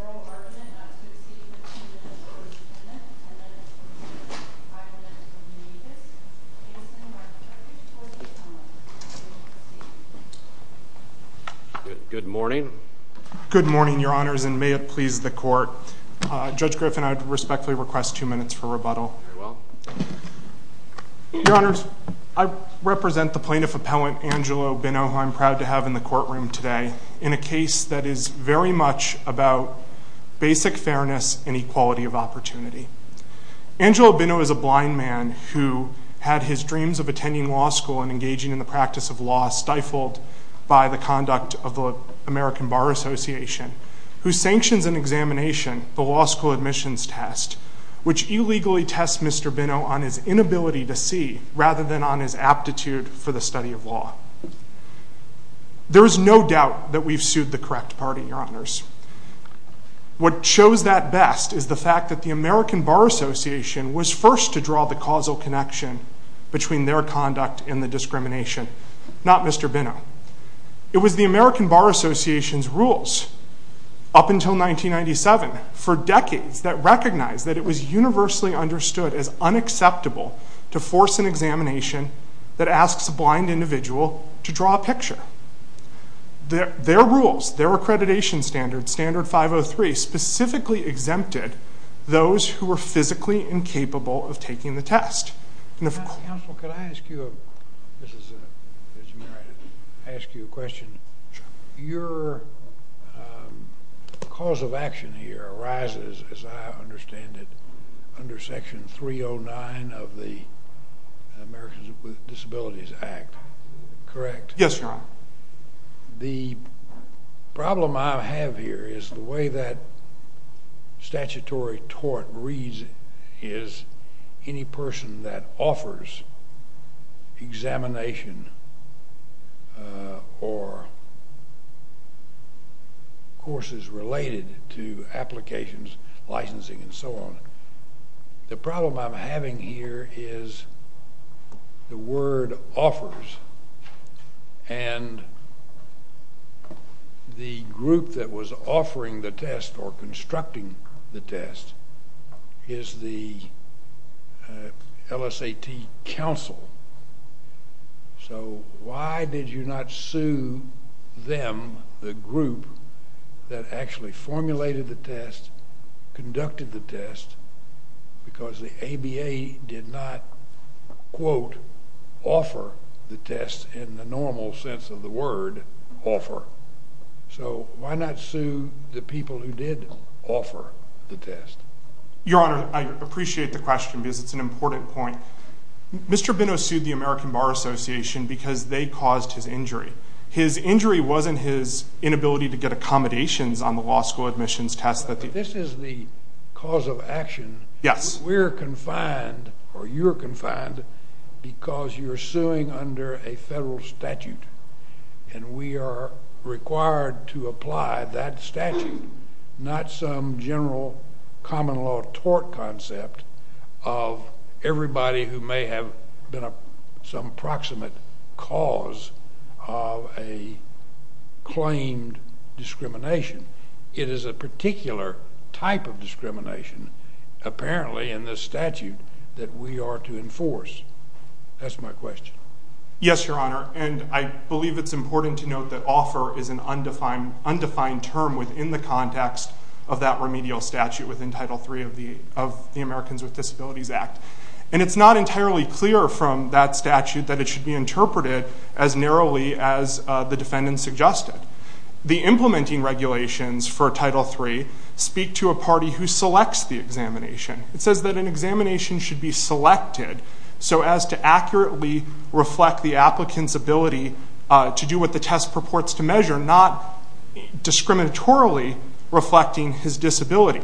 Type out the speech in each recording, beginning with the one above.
Oral argument not to exceed 15 minutes for each tenant, and then 5 minutes for the major's. Good morning. Good morning, your honors, and may it please the court. Judge Griffin, I respectfully request 2 minutes for rebuttal. Very well. Your honors, I represent the plaintiff appellant, Angelo Binno, who I'm proud to have in the courtroom today, in a case that is very much about basic fairness and equality of opportunity. Angelo Binno is a blind man who had his dreams of attending law school and engaging in the practice of law stifled by the conduct of the American Bar Association, who sanctions an examination, the law school admissions test, which illegally tests Mr. Binno on his inability to see rather than on his aptitude for the study of law. There is no doubt that we've sued the correct party, your honors. What shows that best is the fact that the American Bar Association was first to draw the causal connection between their conduct and the discrimination, not Mr. Binno. It was the American Bar Association's rules, up until 1997, for decades that recognized that it was universally understood as unacceptable to force an examination that asks a blind individual to draw a picture. Their rules, their accreditation standards, Standard 503, specifically exempted those who were physically incapable of taking the test. Counsel, could I ask you a question? Your cause of action here arises, as I understand it, under Section 309 of the Americans with Disabilities Act, correct? Yes, Your Honor. The problem I have here is the way that statutory tort reads is any person that offers examination or courses related to applications, licensing, and so on. The problem I'm having here is the word offers, and the group that was offering the test or constructing the test is the LSAT council. So why did you not sue them, the group that actually formulated the test, conducted the test, because the ABA did not, quote, offer the test in the normal sense of the word offer? So why not sue the people who did offer the test? Your Honor, I appreciate the question because it's an important point. Mr. Binno sued the American Bar Association because they caused his injury. His injury wasn't his inability to get accommodations on the law school admissions test. This is the cause of action. We're confined or you're confined because you're suing under a federal statute, and we are required to apply that statute, not some general common law tort concept of everybody who may have been some proximate cause of a claimed discrimination. It is a particular type of discrimination, apparently, in this statute that we are to enforce. That's my question. Yes, Your Honor, and I believe it's important to note that offer is an undefined term within the context of that remedial statute within Title III of the Americans with Disabilities Act, and it's not entirely clear from that statute that it should be interpreted as narrowly as the defendant suggested. The implementing regulations for Title III speak to a party who selects the examination. It says that an examination should be selected so as to accurately reflect the applicant's ability to do what the test purports to measure, not discriminatorily reflecting his disability.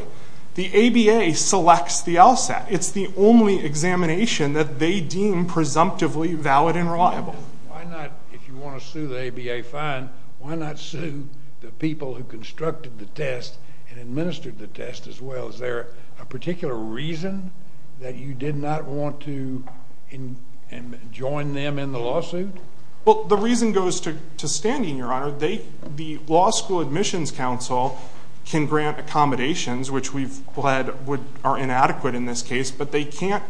The ABA selects the LSAT. It's the only examination that they deem presumptively valid and reliable. Why not, if you want to sue the ABA fine, why not sue the people who constructed the test and administered the test as well? Is there a particular reason that you did not want to join them in the lawsuit? Well, the reason goes to standing, Your Honor. The Law School Admissions Council can grant accommodations, which we've led are inadequate in this case, but they're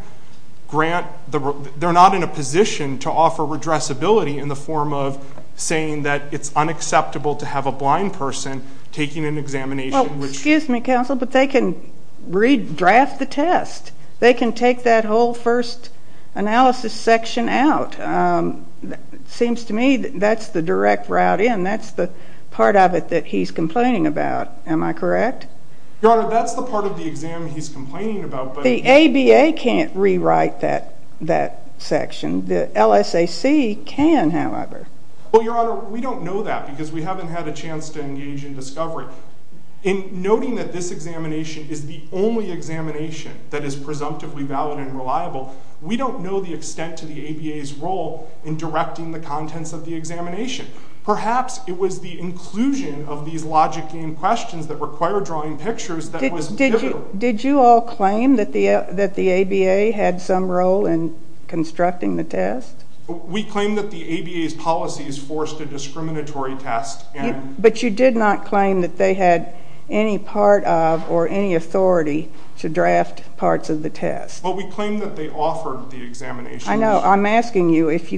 not in a position to offer redressability in the form of saying that it's unacceptable to have a blind person taking an examination. Well, excuse me, counsel, but they can redraft the test. They can take that whole first analysis section out. It seems to me that that's the direct route in. That's the part of it that he's complaining about. Am I correct? Your Honor, that's the part of the exam he's complaining about. The ABA can't rewrite that section. The LSAC can, however. Well, Your Honor, we don't know that because we haven't had a chance to engage in discovery. In noting that this examination is the only examination that is presumptively valid and reliable, we don't know the extent to the ABA's role in directing the contents of the examination. Perhaps it was the inclusion of these logic game questions that require drawing pictures that was pivotal. Did you all claim that the ABA had some role in constructing the test? We claim that the ABA's policies forced a discriminatory test. But you did not claim that they had any part of or any authority to draft parts of the test. Well, we claim that they offered the examination. I know. I'm asking you if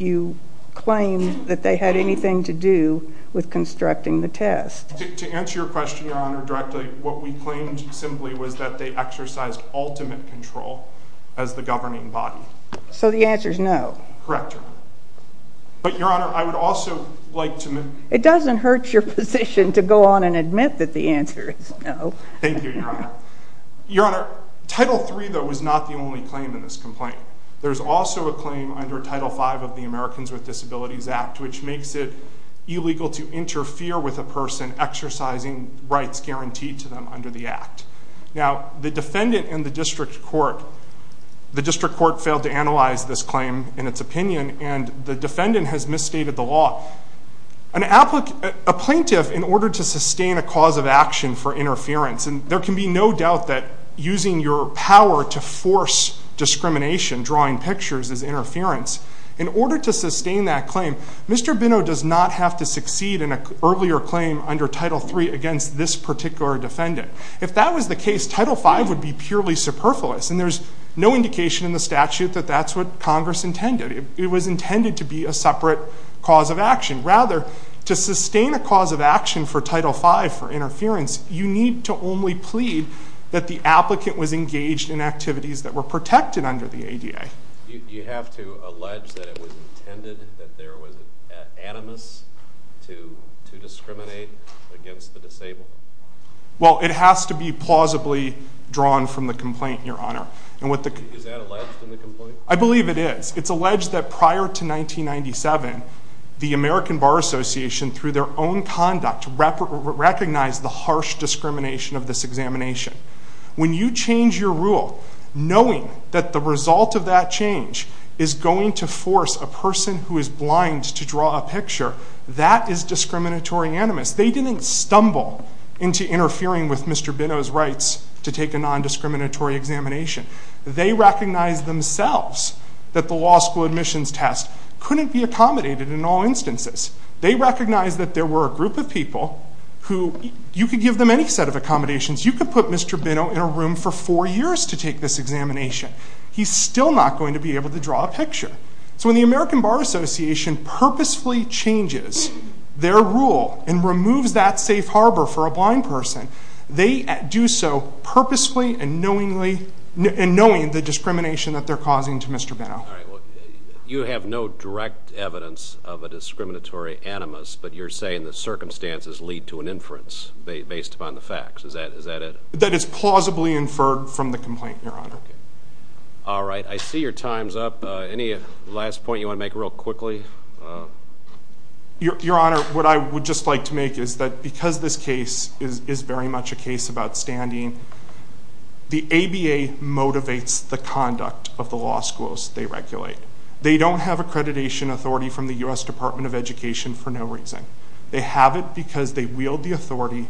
you claim that they had anything to do with constructing the test. To answer your question, Your Honor, directly, what we claimed simply was that they exercised ultimate control as the governing body. So the answer is no? Correct, Your Honor. But, Your Honor, I would also like to... It doesn't hurt your position to go on and admit that the answer is no. Thank you, Your Honor. Your Honor, Title III, though, was not the only claim in this complaint. There's also a claim under Title V of the Americans with Disabilities Act which makes it illegal to interfere with a person exercising rights guaranteed to them under the act. Now, the defendant and the district court failed to analyze this claim in its opinion, and the defendant has misstated the law. A plaintiff, in order to sustain a cause of action for interference, and there can be no doubt that using your power to force discrimination, drawing pictures as interference, in order to sustain that claim, Mr. Bino does not have to succeed in an earlier claim under Title III against this particular defendant. If that was the case, Title V would be purely superfluous, and there's no indication in the statute that that's what Congress intended. It was intended to be a separate cause of action. Rather, to sustain a cause of action for Title V for interference, you need to only plead that the applicant was engaged in activities that were protected under the ADA. You have to allege that it was intended, that there was an animus to discriminate against the disabled? Well, it has to be plausibly drawn from the complaint, Your Honor. Is that alleged in the complaint? I believe it is. It's alleged that prior to 1997, the American Bar Association, through their own conduct, recognized the harsh discrimination of this examination. When you change your rule, knowing that the result of that change is going to force a person who is blind to draw a picture, that is discriminatory animus. They didn't stumble into interfering with Mr. Bino's rights to take a nondiscriminatory examination. They recognized themselves that the law school admissions test couldn't be accommodated in all instances. They recognized that there were a group of people who you could give them any set of accommodations. You could put Mr. Bino in a room for four years to take this examination. He's still not going to be able to draw a picture. So when the American Bar Association purposefully changes their rule and removes that safe harbor for a blind person, they do so purposely and knowingly, and knowing the discrimination that they're causing to Mr. Bino. All right. You have no direct evidence of a discriminatory animus, but you're saying the circumstances lead to an inference based upon the facts. Is that it? That it's plausibly inferred from the complaint, Your Honor. All right. I see your time's up. Any last point you want to make real quickly? Your Honor, what I would just like to make is that because this case is very much a case about standing, the ABA motivates the conduct of the law schools they regulate. They don't have accreditation authority from the U.S. Department of Education for no reason. They have it because they wield the authority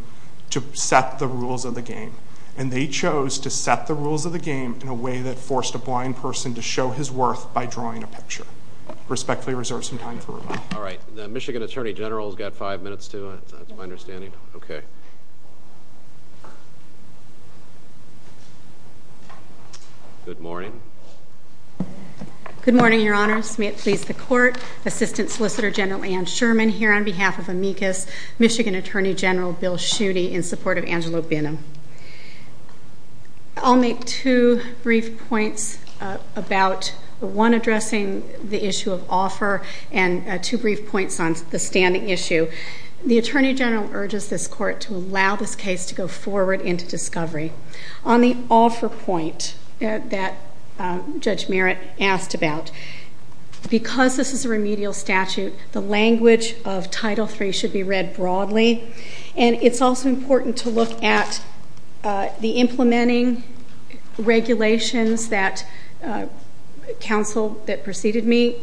to set the rules of the game. And they chose to set the rules of the game in a way that forced a blind person to show his worth by drawing a picture. I respectfully reserve some time for rebuttal. All right. The Michigan Attorney General has got five minutes to it. That's my understanding. Okay. Good morning. Good morning, Your Honors. May it please the Court. Assistant Solicitor General Anne Sherman here on behalf of amicus, Michigan Attorney General Bill Schuette in support of Angelo Bino. I'll make two brief points about one addressing the issue of offer and two brief points on the standing issue. The Attorney General urges this Court to allow this case to go forward into discovery. On the offer point that Judge Merritt asked about, because this is a remedial statute, the language of Title III should be read broadly. And it's also important to look at the implementing regulations that counsel that preceded me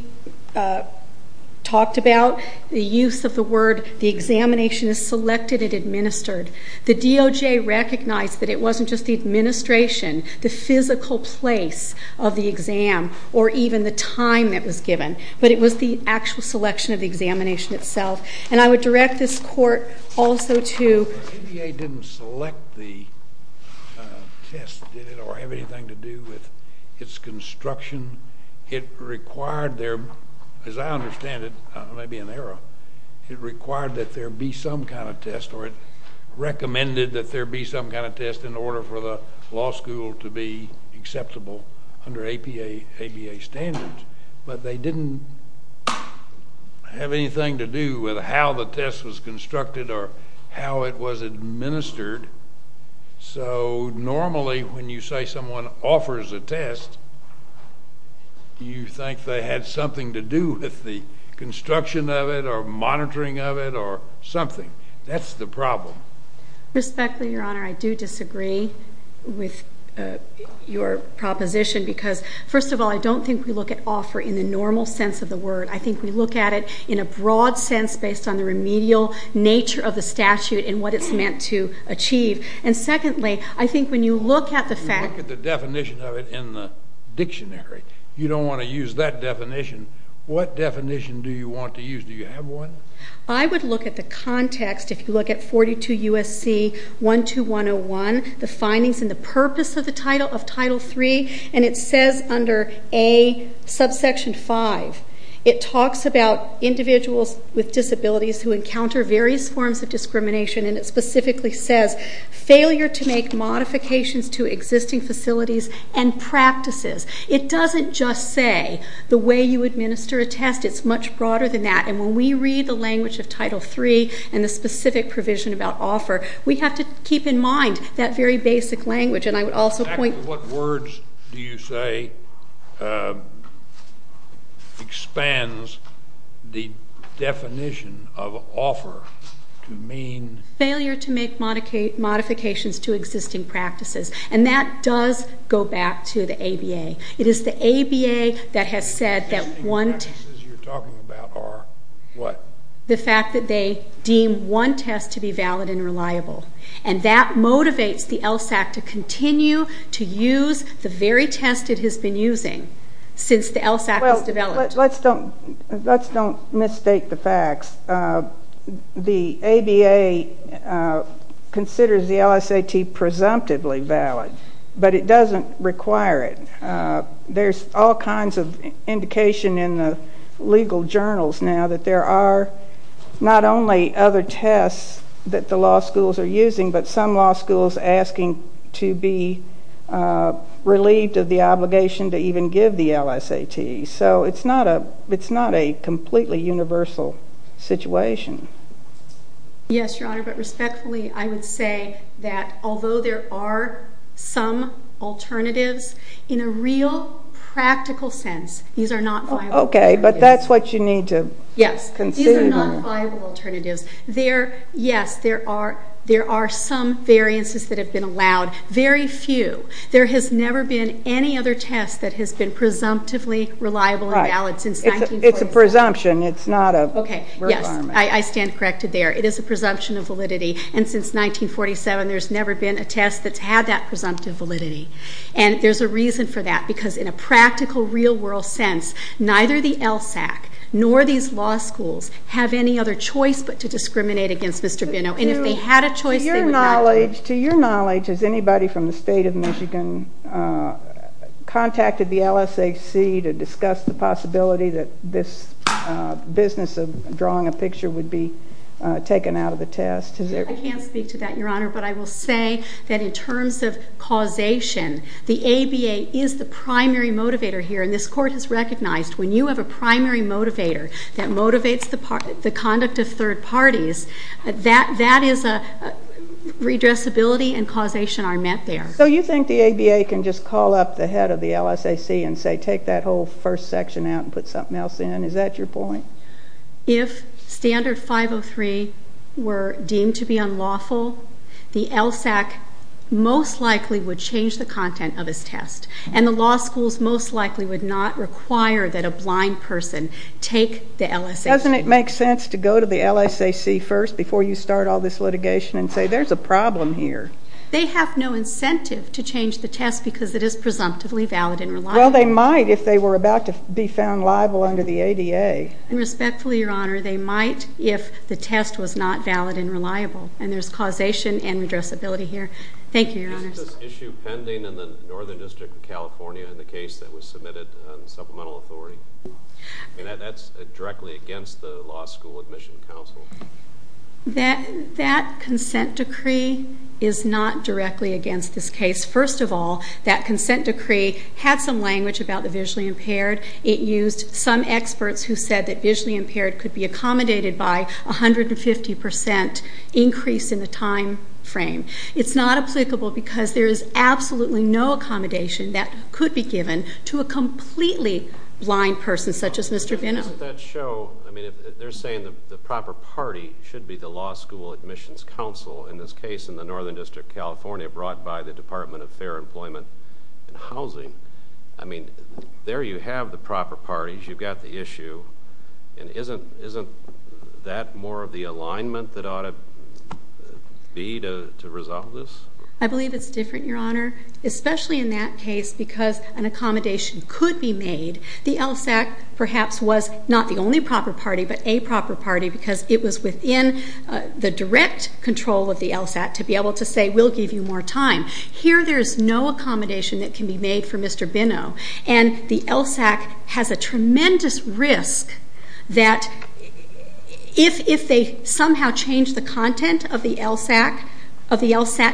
talked about, the use of the word, the examination is selected and administered. The DOJ recognized that it wasn't just the administration, the physical place of the exam, or even the time it was given, but it was the actual selection of the examination itself. And I would direct this Court also to. The ABA didn't select the test, did it, or have anything to do with its construction. It required their, as I understand it, it may be an error, it required that there be some kind of test or it recommended that there be some kind of test in order for the law school to be acceptable under ABA standards. But they didn't have anything to do with how the test was constructed or how it was administered. So normally when you say someone offers a test, you think they had something to do with the construction of it or monitoring of it or something. That's the problem. Respectfully, Your Honor, I do disagree with your proposition because, first of all, I don't think we look at offer in the normal sense of the word. I think we look at it in a broad sense based on the remedial nature of the statute and what it's meant to achieve. And secondly, I think when you look at the fact... When you look at the definition of it in the dictionary, you don't want to use that definition. What definition do you want to use? Do you have one? I would look at the context, if you look at 42 U.S.C. 12101, the findings and the purpose of Title III, and it says under A, subsection 5, it talks about individuals with disabilities who encounter various forms of discrimination, and it specifically says failure to make modifications to existing facilities and practices. It doesn't just say the way you administer a test. It's much broader than that. And when we read the language of Title III and the specific provision about offer, we have to keep in mind that very basic language. And I would also point... What words do you say expands the definition of offer to mean... Failure to make modifications to existing practices. And that does go back to the ABA. It is the ABA that has said that one... The existing practices you're talking about are what? The fact that they deem one test to be valid and reliable. And that motivates the LSAC to continue to use the very test it has been using since the LSAC was developed. Let's don't mistake the facts. The ABA considers the LSAT presumptively valid, but it doesn't require it. There's all kinds of indication in the legal journals now that there are not only other tests that the law schools are using, but some law schools asking to be relieved of the obligation to even give the LSAT. So it's not a completely universal situation. Yes, Your Honor, but respectfully, I would say that although there are some alternatives, in a real practical sense, these are not viable alternatives. Okay, but that's what you need to conceive of. Yes, these are not viable alternatives. Yes, there are some variances that have been allowed. Very few. There has never been any other test that has been presumptively reliable and valid since 1949. It's a presumption. It's not a requirement. Okay, yes, I stand corrected there. It is a presumption of validity. And since 1947, there's never been a test that's had that presumptive validity. And there's a reason for that, because in a practical, real-world sense, neither the LSAC nor these law schools have any other choice but to discriminate against Mr. Binow. And if they had a choice, they would not do it. To your knowledge, has anybody from the State of Michigan contacted the LSAC to discuss the possibility that this business of drawing a picture would be taken out of the test? I can't speak to that, Your Honor, but I will say that in terms of causation, the ABA is the primary motivator here. And this Court has recognized when you have a primary motivator that motivates the conduct of third parties, that is a redressability and causation are met there. So you think the ABA can just call up the head of the LSAC and say take that whole first section out and put something else in? Is that your point? If Standard 503 were deemed to be unlawful, the LSAC most likely would change the content of its test. And the law schools most likely would not require that a blind person take the LSAC. Doesn't it make sense to go to the LSAC first before you start all this litigation and say there's a problem here? They have no incentive to change the test because it is presumptively valid and reliable. Well, they might if they were about to be found liable under the ADA. And respectfully, Your Honor, they might if the test was not valid and reliable. And there's causation and redressability here. Thank you, Your Honors. Isn't this issue pending in the Northern District of California in the case that was submitted on supplemental authority? That's directly against the Law School Admission Council. That consent decree is not directly against this case. First of all, that consent decree had some language about the visually impaired. It used some experts who said that visually impaired could be accommodated by 150% increase in the time frame. It's not applicable because there is absolutely no accommodation that could be given to a completely blind person, such as Mr. Benham. Doesn't that show? I mean, they're saying the proper party should be the Law School Admissions Council in this case in the Northern District of California brought by the Department of Fair Employment and Housing. I mean, there you have the proper parties. You've got the issue. And isn't that more of the alignment that ought to be to resolve this? I believe it's different, Your Honor, especially in that case because an accommodation could be made. The LSAC, perhaps, was not the only proper party but a proper party because it was within the direct control of the LSAT to be able to say we'll give you more time. Here there is no accommodation that can be made for Mr. Benham, and the LSAC has a tremendous risk that if they somehow change the content of the LSAT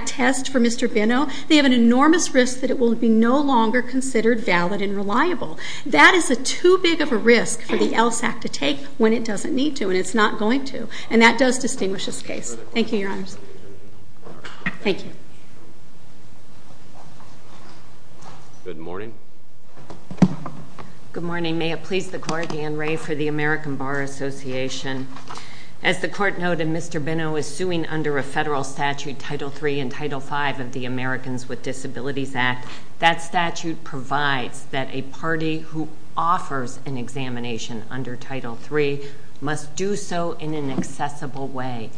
test for Mr. Benham, they have an enormous risk that it will be no longer considered valid and reliable. That is too big of a risk for the LSAC to take when it doesn't need to and it's not going to. And that does distinguish this case. Thank you, Your Honors. Thank you. Good morning. Good morning. May it please the Court, Anne Rae for the American Bar Association. As the Court noted, Mr. Benham is suing under a federal statute, Title III and Title V of the Americans with Disabilities Act. That statute provides that a party who offers an examination under Title III must do so in an accessible way.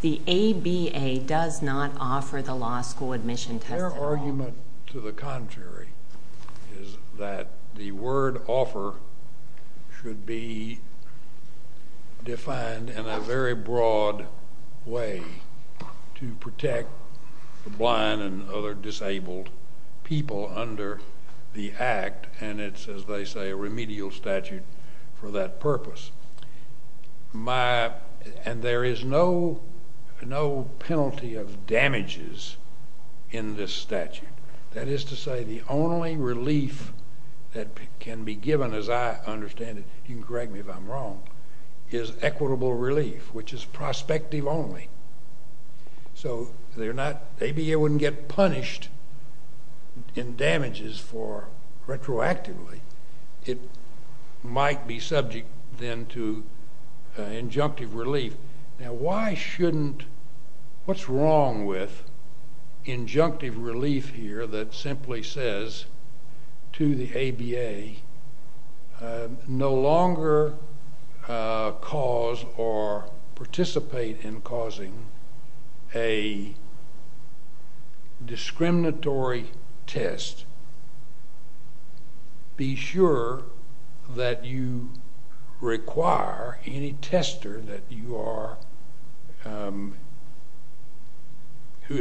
The ABA does not offer the law school admission test at all. Their argument to the contrary is that the word offer should be defined in a very broad way to protect the blind and other disabled people under the act, and it's, as they say, a remedial statute for that purpose. And there is no penalty of damages in this statute. That is to say the only relief that can be given, as I understand it, you can correct me if I'm wrong, is equitable relief, which is prospective only. So they're not, ABA wouldn't get punished in damages for retroactively. It might be subject then to injunctive relief. Now, why shouldn't, what's wrong with injunctive relief here that simply says to the ABA, no longer cause or participate in causing a discriminatory test, be sure that you require any tester that you are, who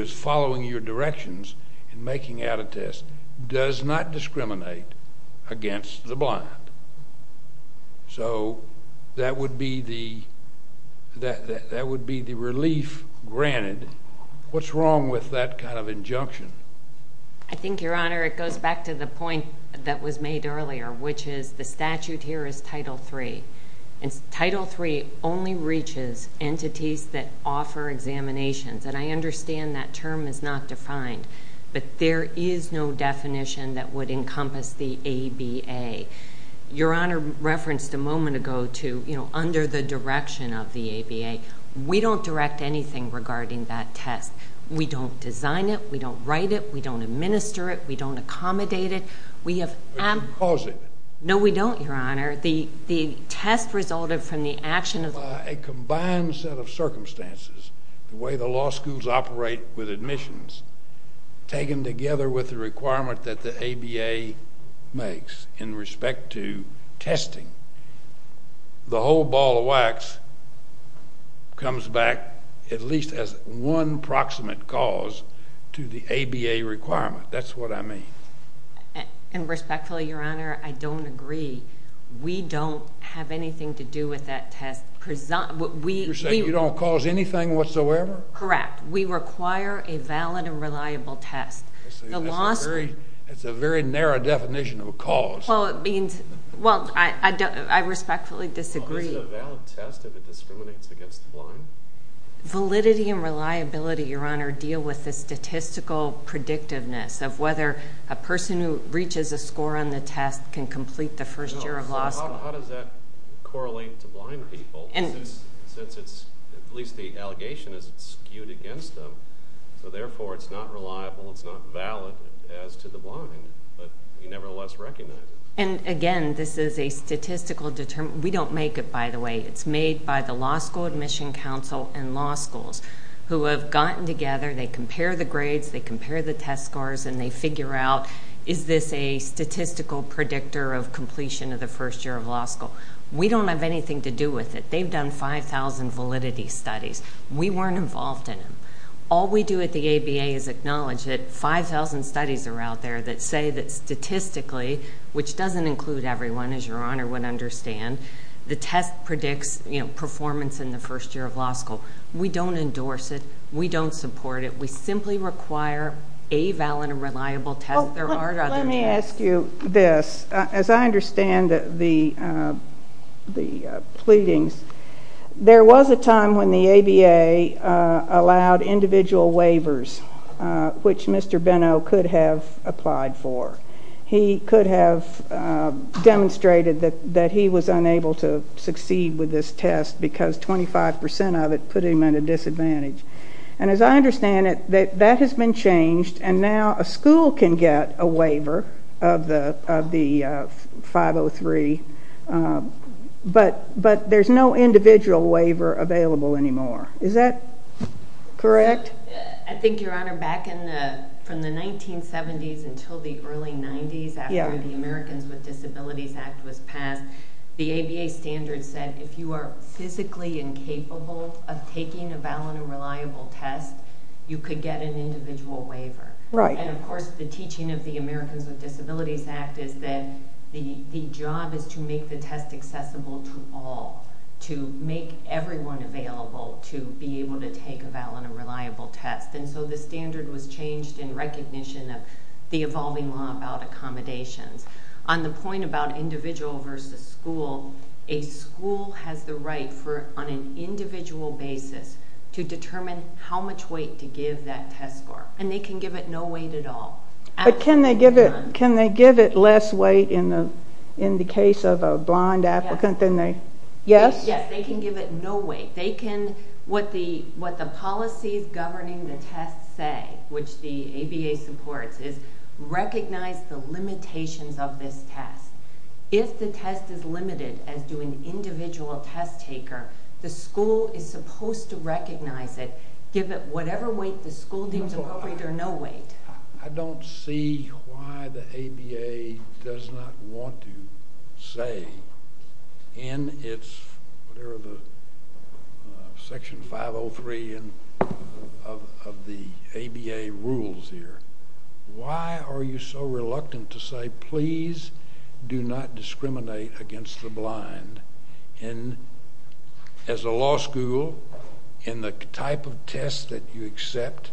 is following your directions in making out a test, does not discriminate against the blind? So that would be the relief granted. What's wrong with that kind of injunction? I think, Your Honor, it goes back to the point that was made earlier, which is the statute here is Title III, and Title III only reaches entities that offer examinations, and I understand that term is not defined, but there is no definition that would encompass the ABA. Your Honor referenced a moment ago to, you know, under the direction of the ABA, we don't direct anything regarding that test. We don't design it. We don't write it. We don't administer it. We don't accommodate it. We have— But you cause it. No, we don't, Your Honor. The test resulted from the action of— a combined set of circumstances, the way the law schools operate with admissions, taken together with the requirement that the ABA makes in respect to testing, the whole ball of wax comes back at least as one proximate cause to the ABA requirement. That's what I mean. And respectfully, Your Honor, I don't agree. We don't have anything to do with that test. You're saying you don't cause anything whatsoever? Correct. We require a valid and reliable test. I see. That's a very narrow definition of a cause. Well, it means—well, I respectfully disagree. Well, is it a valid test if it discriminates against the blind? Validity and reliability, Your Honor, deal with the statistical predictiveness of whether a person who reaches a score on the test can complete the first year of law school. How does that correlate to blind people? Since it's—at least the allegation is it's skewed against them, so therefore it's not reliable, it's not valid as to the blind, but you nevertheless recognize it. And, again, this is a statistical—we don't make it, by the way. It's made by the Law School Admission Council and law schools, who have gotten together, they compare the grades, they compare the test scores, and they figure out is this a statistical predictor of completion of the first year of law school. We don't have anything to do with it. They've done 5,000 validity studies. We weren't involved in them. All we do at the ABA is acknowledge that 5,000 studies are out there that say that statistically, which doesn't include everyone, as Your Honor would understand, the test predicts performance in the first year of law school. We don't endorse it. We don't support it. We simply require a valid and reliable test. There are other tests. Let me ask you this. As I understand the pleadings, there was a time when the ABA allowed individual waivers, which Mr. Benno could have applied for. He could have demonstrated that he was unable to succeed with this test because 25 percent of it put him at a disadvantage. And as I understand it, that has been changed, and now a school can get a waiver of the 503, but there's no individual waiver available anymore. Is that correct? I think, Your Honor, back from the 1970s until the early 90s, after the Americans with Disabilities Act was passed, the ABA standards said if you are physically incapable of taking a valid and reliable test, you could get an individual waiver. And, of course, the teaching of the Americans with Disabilities Act is that the job is to make the test accessible to all, to make everyone available to be able to take a valid and reliable test. And so the standard was changed in recognition of the evolving law about accommodations. On the point about individual versus school, a school has the right for, on an individual basis, to determine how much weight to give that test score, and they can give it no weight at all. But can they give it less weight in the case of a blind applicant than they... Yes, they can give it no weight. What the policies governing the test say, which the ABA supports, is recognize the limitations of this test. If the test is limited as to an individual test taker, the school is supposed to recognize it, give it whatever weight the school deems appropriate or no weight. I don't see why the ABA does not want to say, in its section 503 of the ABA rules here, why are you so reluctant to say, please do not discriminate against the blind? And as a law school, in the type of test that you accept,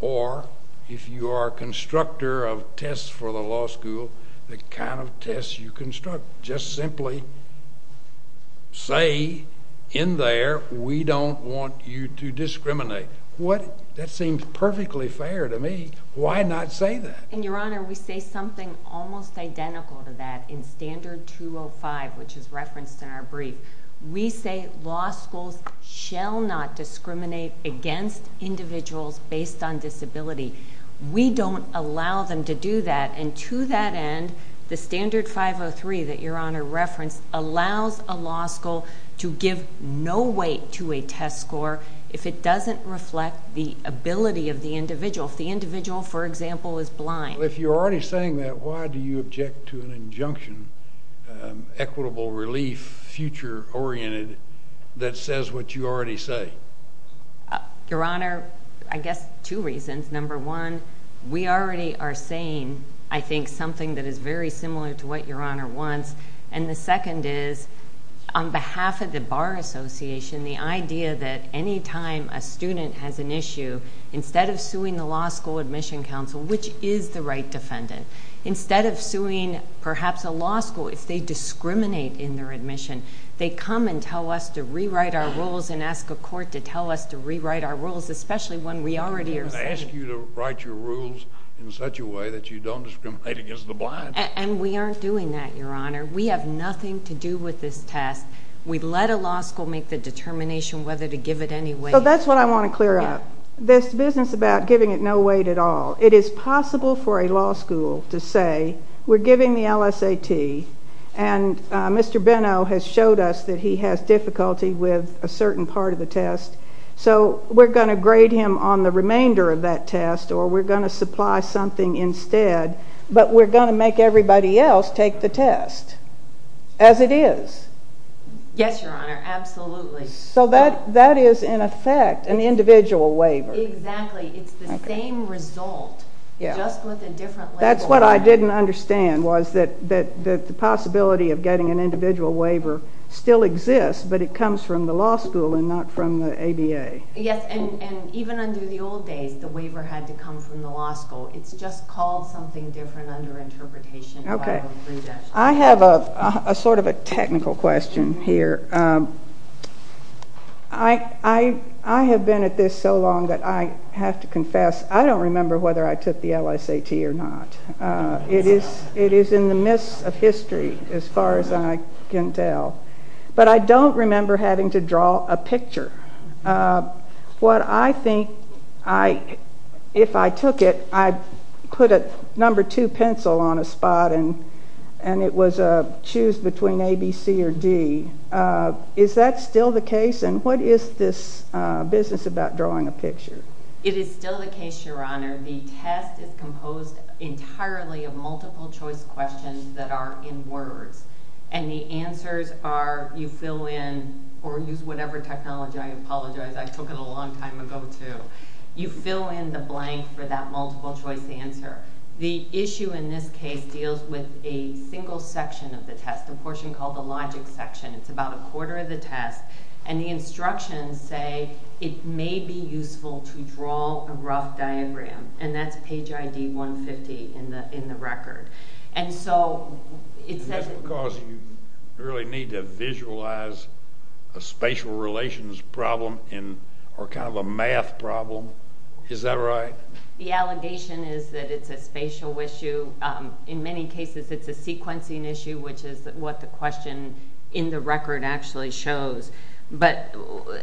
or if you are a constructor of tests for the law school, the kind of test you construct, just simply say, in there, we don't want you to discriminate. What? That seems perfectly fair to me. Why not say that? And, Your Honor, we say something almost identical to that in Standard 205, which is referenced in our brief. We say law schools shall not discriminate against individuals based on disability. We don't allow them to do that, and to that end, the Standard 503 that Your Honor referenced allows a law school to give no weight to a test score if it doesn't reflect the ability of the individual. If the individual, for example, is blind. If you're already saying that, why do you object to an injunction, equitable relief, future-oriented, that says what you already say? Your Honor, I guess two reasons. Number one, we already are saying, I think, something that is very similar to what Your Honor wants, and the second is, on behalf of the Bar Association, the idea that any time a student has an issue, instead of suing the law school admission counsel, which is the right defendant, instead of suing, perhaps, a law school, if they discriminate in their admission, they come and tell us to rewrite our rules and ask a court to tell us to rewrite our rules, especially one we already are saying. Ask you to write your rules in such a way that you don't discriminate against the blind. And we aren't doing that, Your Honor. We have nothing to do with this test. We let a law school make the determination whether to give it any weight. That's what I want to clear up. This business about giving it no weight at all, it is possible for a law school to say, we're giving the LSAT, and Mr. Benno has showed us that he has difficulty with a certain part of the test, so we're going to grade him on the remainder of that test, or we're going to supply something instead, but we're going to make everybody else take the test, as it is. Yes, Your Honor, absolutely. So that is, in effect, an individual waiver. Exactly. It's the same result, just with a different label. That's what I didn't understand, was that the possibility of getting an individual waiver still exists, but it comes from the law school and not from the ABA. Yes, and even under the old days, the waiver had to come from the law school. It's just called something different under interpretation. Okay. I have a sort of a technical question here. I have been at this so long that I have to confess, I don't remember whether I took the LSAT or not. It is in the mists of history, as far as I can tell. But I don't remember having to draw a picture. What I think, if I took it, I put a number two pencil on a spot, and it was a choose between A, B, C, or D. Is that still the case, and what is this business about drawing a picture? It is still the case, Your Honor. The test is composed entirely of multiple choice questions that are in words, and the answers are you fill in, or use whatever technology, I apologize. I took it a long time ago, too. You fill in the blank for that multiple choice answer. The issue in this case deals with a single section of the test, a portion called the logic section. It's about a quarter of the test, and the instructions say it may be useful to draw a rough diagram, and that's page ID 150 in the record. That's because you really need to visualize a spatial relations problem, or kind of a math problem. Is that right? The allegation is that it's a spatial issue. In many cases, it's a sequencing issue, which is what the question in the record actually shows.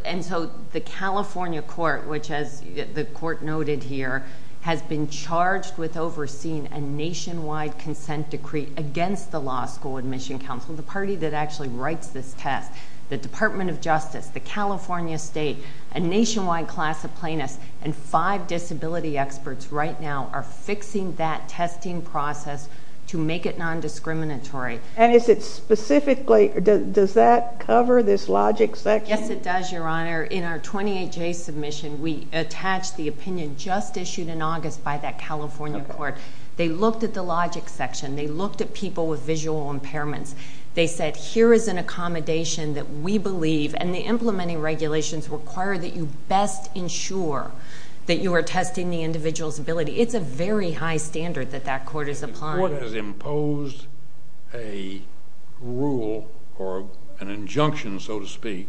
And so the California court, which, as the court noted here, has been charged with overseeing a nationwide consent decree against the Law School Admission Council, the party that actually writes this test. The Department of Justice, the California State, a nationwide class of plaintiffs, and five disability experts right now are fixing that testing process to make it nondiscriminatory. And is it specifically, does that cover this logic section? Yes, it does, Your Honor. In our 28-J submission, we attach the opinion just issued in August by that California court. They looked at the logic section. They looked at people with visual impairments. They said, here is an accommodation that we believe, and the implementing regulations require that you best ensure that you are testing the individual's ability. It's a very high standard that that court is applying. The court has imposed a rule or an injunction, so to speak,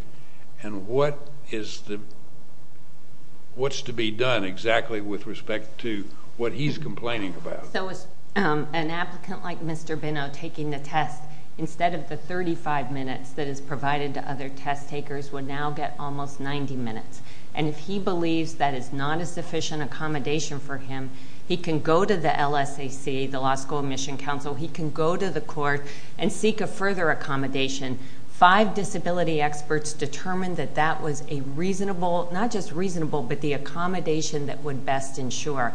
and what is the, what's to be done exactly with respect to what he's complaining about? So an applicant like Mr. Benno taking the test, instead of the 35 minutes that is provided to other test takers, would now get almost 90 minutes. And if he believes that is not a sufficient accommodation for him, he can go to the LSAC, the Law School Admission Council. He can go to the court and seek a further accommodation. Five disability experts determined that that was a reasonable, not just reasonable, but the accommodation that would best ensure.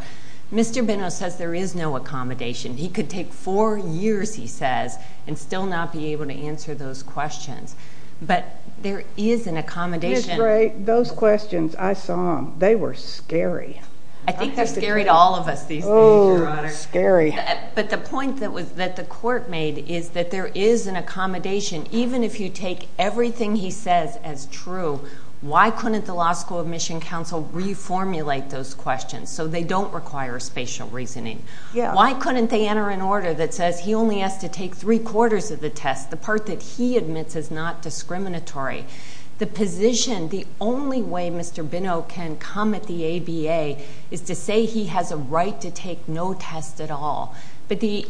Mr. Benno says there is no accommodation. He could take four years, he says, and still not be able to answer those questions. But there is an accommodation. Ms. Gray, those questions, I saw them. They were scary. I think they're scary to all of us these days, Your Honor. Oh, scary. But the point that the court made is that there is an accommodation, even if you take everything he says as true, why couldn't the Law School Admission Council reformulate those questions so they don't require spatial reasoning? Why couldn't they enter an order that says he only has to take three-quarters of the test, the part that he admits is not discriminatory? The position, the only way Mr. Benno can come at the ABA is to say he has a right to take no test at all. But the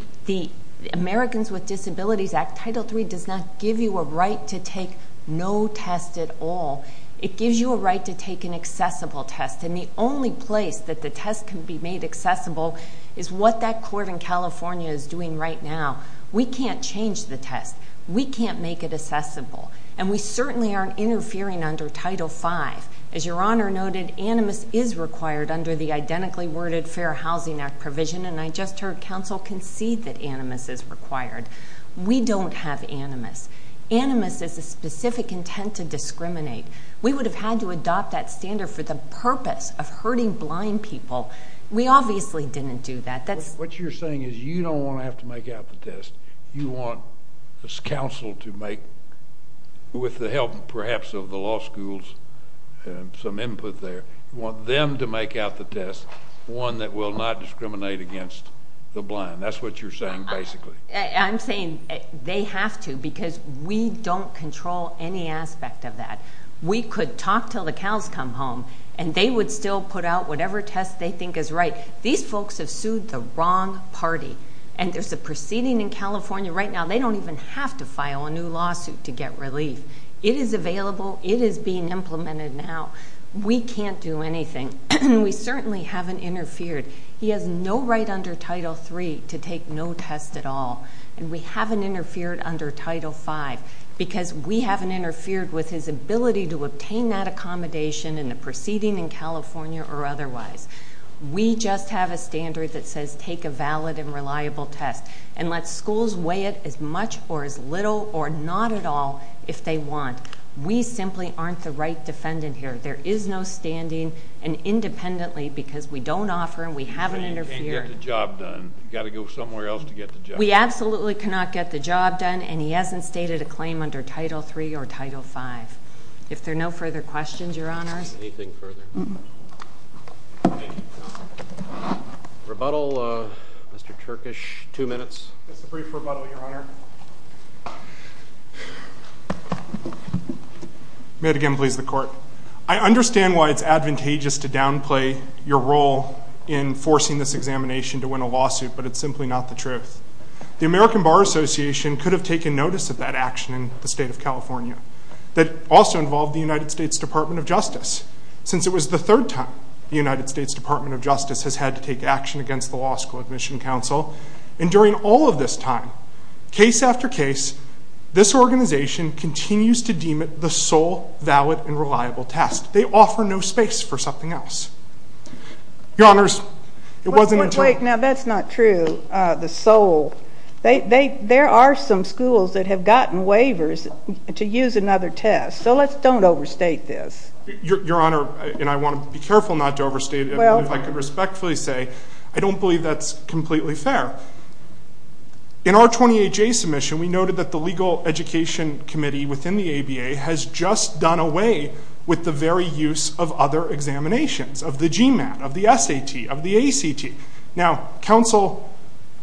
Americans with Disabilities Act, Title III, does not give you a right to take no test at all. It gives you a right to take an accessible test. And the only place that the test can be made accessible is what that court in California is doing right now. We can't change the test. We can't make it accessible. And we certainly aren't interfering under Title V. As Your Honor noted, animus is required under the identically worded Fair Housing Act provision, and I just heard counsel concede that animus is required. We don't have animus. Animus is a specific intent to discriminate. We would have had to adopt that standard for the purpose of hurting blind people. We obviously didn't do that. What you're saying is you don't want to have to make out the test. You want this council to make, with the help perhaps of the law schools and some input there, you want them to make out the test, one that will not discriminate against the blind. That's what you're saying basically. I'm saying they have to because we don't control any aspect of that. We could talk till the cows come home, and they would still put out whatever test they think is right. These folks have sued the wrong party, and there's a proceeding in California right now. They don't even have to file a new lawsuit to get relief. It is available. It is being implemented now. We can't do anything. We certainly haven't interfered. He has no right under Title III to take no test at all, and we haven't interfered under Title V because we haven't interfered with his ability to obtain that accommodation in the proceeding in California or otherwise. We just have a standard that says take a valid and reliable test and let schools weigh it as much or as little or not at all if they want. We simply aren't the right defendant here. There is no standing, and independently because we don't offer and we haven't interfered. You can't get the job done. You've got to go somewhere else to get the job done. We absolutely cannot get the job done, and he hasn't stated a claim under Title III or Title V. If there are no further questions, Your Honors. Anything further? Rebuttal, Mr. Turkish. Two minutes. Just a brief rebuttal, Your Honor. May it again please the Court. I understand why it's advantageous to downplay your role in forcing this examination to win a lawsuit, but it's simply not the truth. The American Bar Association could have taken notice of that action in the state of California. That also involved the United States Department of Justice. Since it was the third time the United States Department of Justice has had to take action against the Law School Admission Council, and during all of this time, case after case, this organization continues to deem it the sole valid and reliable test. They offer no space for something else. Your Honors, it wasn't until... Wait, now that's not true, the sole. There are some schools that have gotten waivers to use another test, so let's don't overstate this. Your Honor, and I want to be careful not to overstate it, and if I could respectfully say, I don't believe that's completely fair. In our 20HA submission, we noted that the Legal Education Committee within the ABA has just done away with the very use of other examinations, of the GMAT, of the SAT, of the ACT. Now, counsel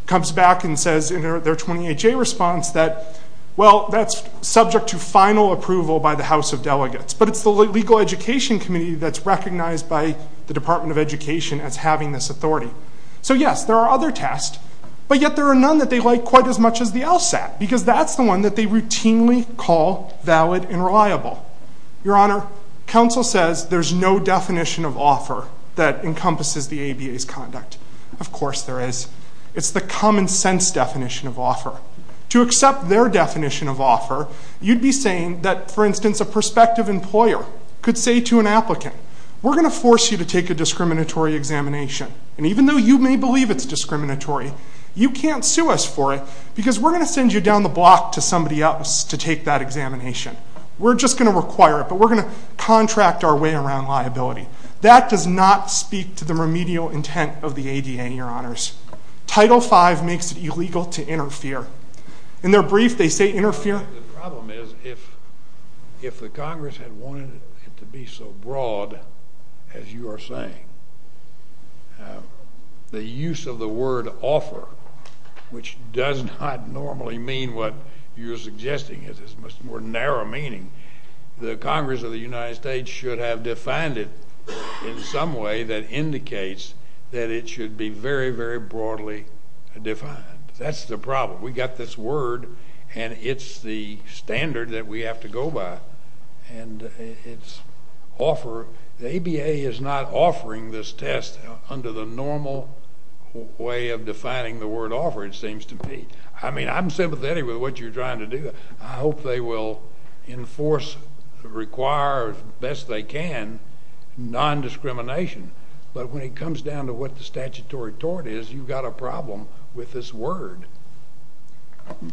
comes back and says in their 20HA response that, well, that's subject to final approval by the House of Delegates, but it's the Legal Education Committee that's recognized by the Department of Education as having this authority. So, yes, there are other tests, but yet there are none that they like quite as much as the LSAT, because that's the one that they routinely call valid and reliable. Your Honor, counsel says there's no definition of offer that encompasses the ABA's conduct. Of course there is. It's the common sense definition of offer. To accept their definition of offer, you'd be saying that, for instance, a prospective employer could say to an applicant, we're going to force you to take a discriminatory examination, and even though you may believe it's discriminatory, you can't sue us for it because we're going to send you down the block to somebody else to take that examination. We're just going to require it, but we're going to contract our way around liability. That does not speak to the remedial intent of the ADA, Your Honors. Title V makes it illegal to interfere. In their brief, they say interfere. The problem is if the Congress had wanted it to be so broad as you are saying, the use of the word offer, which does not normally mean what you're suggesting, it has a much more narrow meaning, the Congress of the United States should have defined it in some way that indicates that it should be very, very broadly defined. That's the problem. We've got this word, and it's the standard that we have to go by, and it's offer. The ADA is not offering this test under the normal way of defining the word offer, it seems to me. I mean, I'm sympathetic with what you're trying to do. I hope they will enforce, require, as best they can, nondiscrimination, but when it comes down to what the statutory tort is, you've got a problem with this word.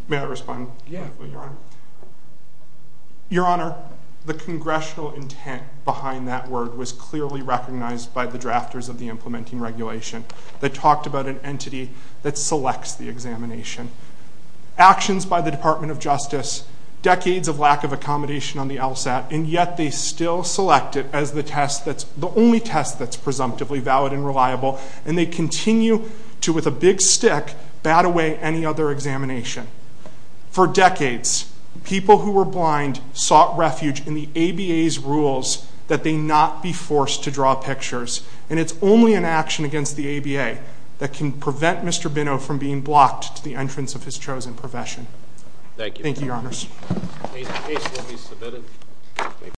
May I respond? Yes, Your Honor. Your Honor, the congressional intent behind that word was clearly recognized by the drafters of the implementing regulation that talked about an entity that selects the examination. Actions by the Department of Justice, decades of lack of accommodation on the LSAT, and yet they still select it as the only test that's presumptively valid and reliable, and they continue to, with a big stick, bat away any other examination. For decades, people who were blind sought refuge in the ABA's rules that they not be forced to draw pictures, and it's only an action against the ABA that can prevent Mr. Binnow from being blocked to the entrance of his chosen profession. Thank you. Thank you, Your Honors.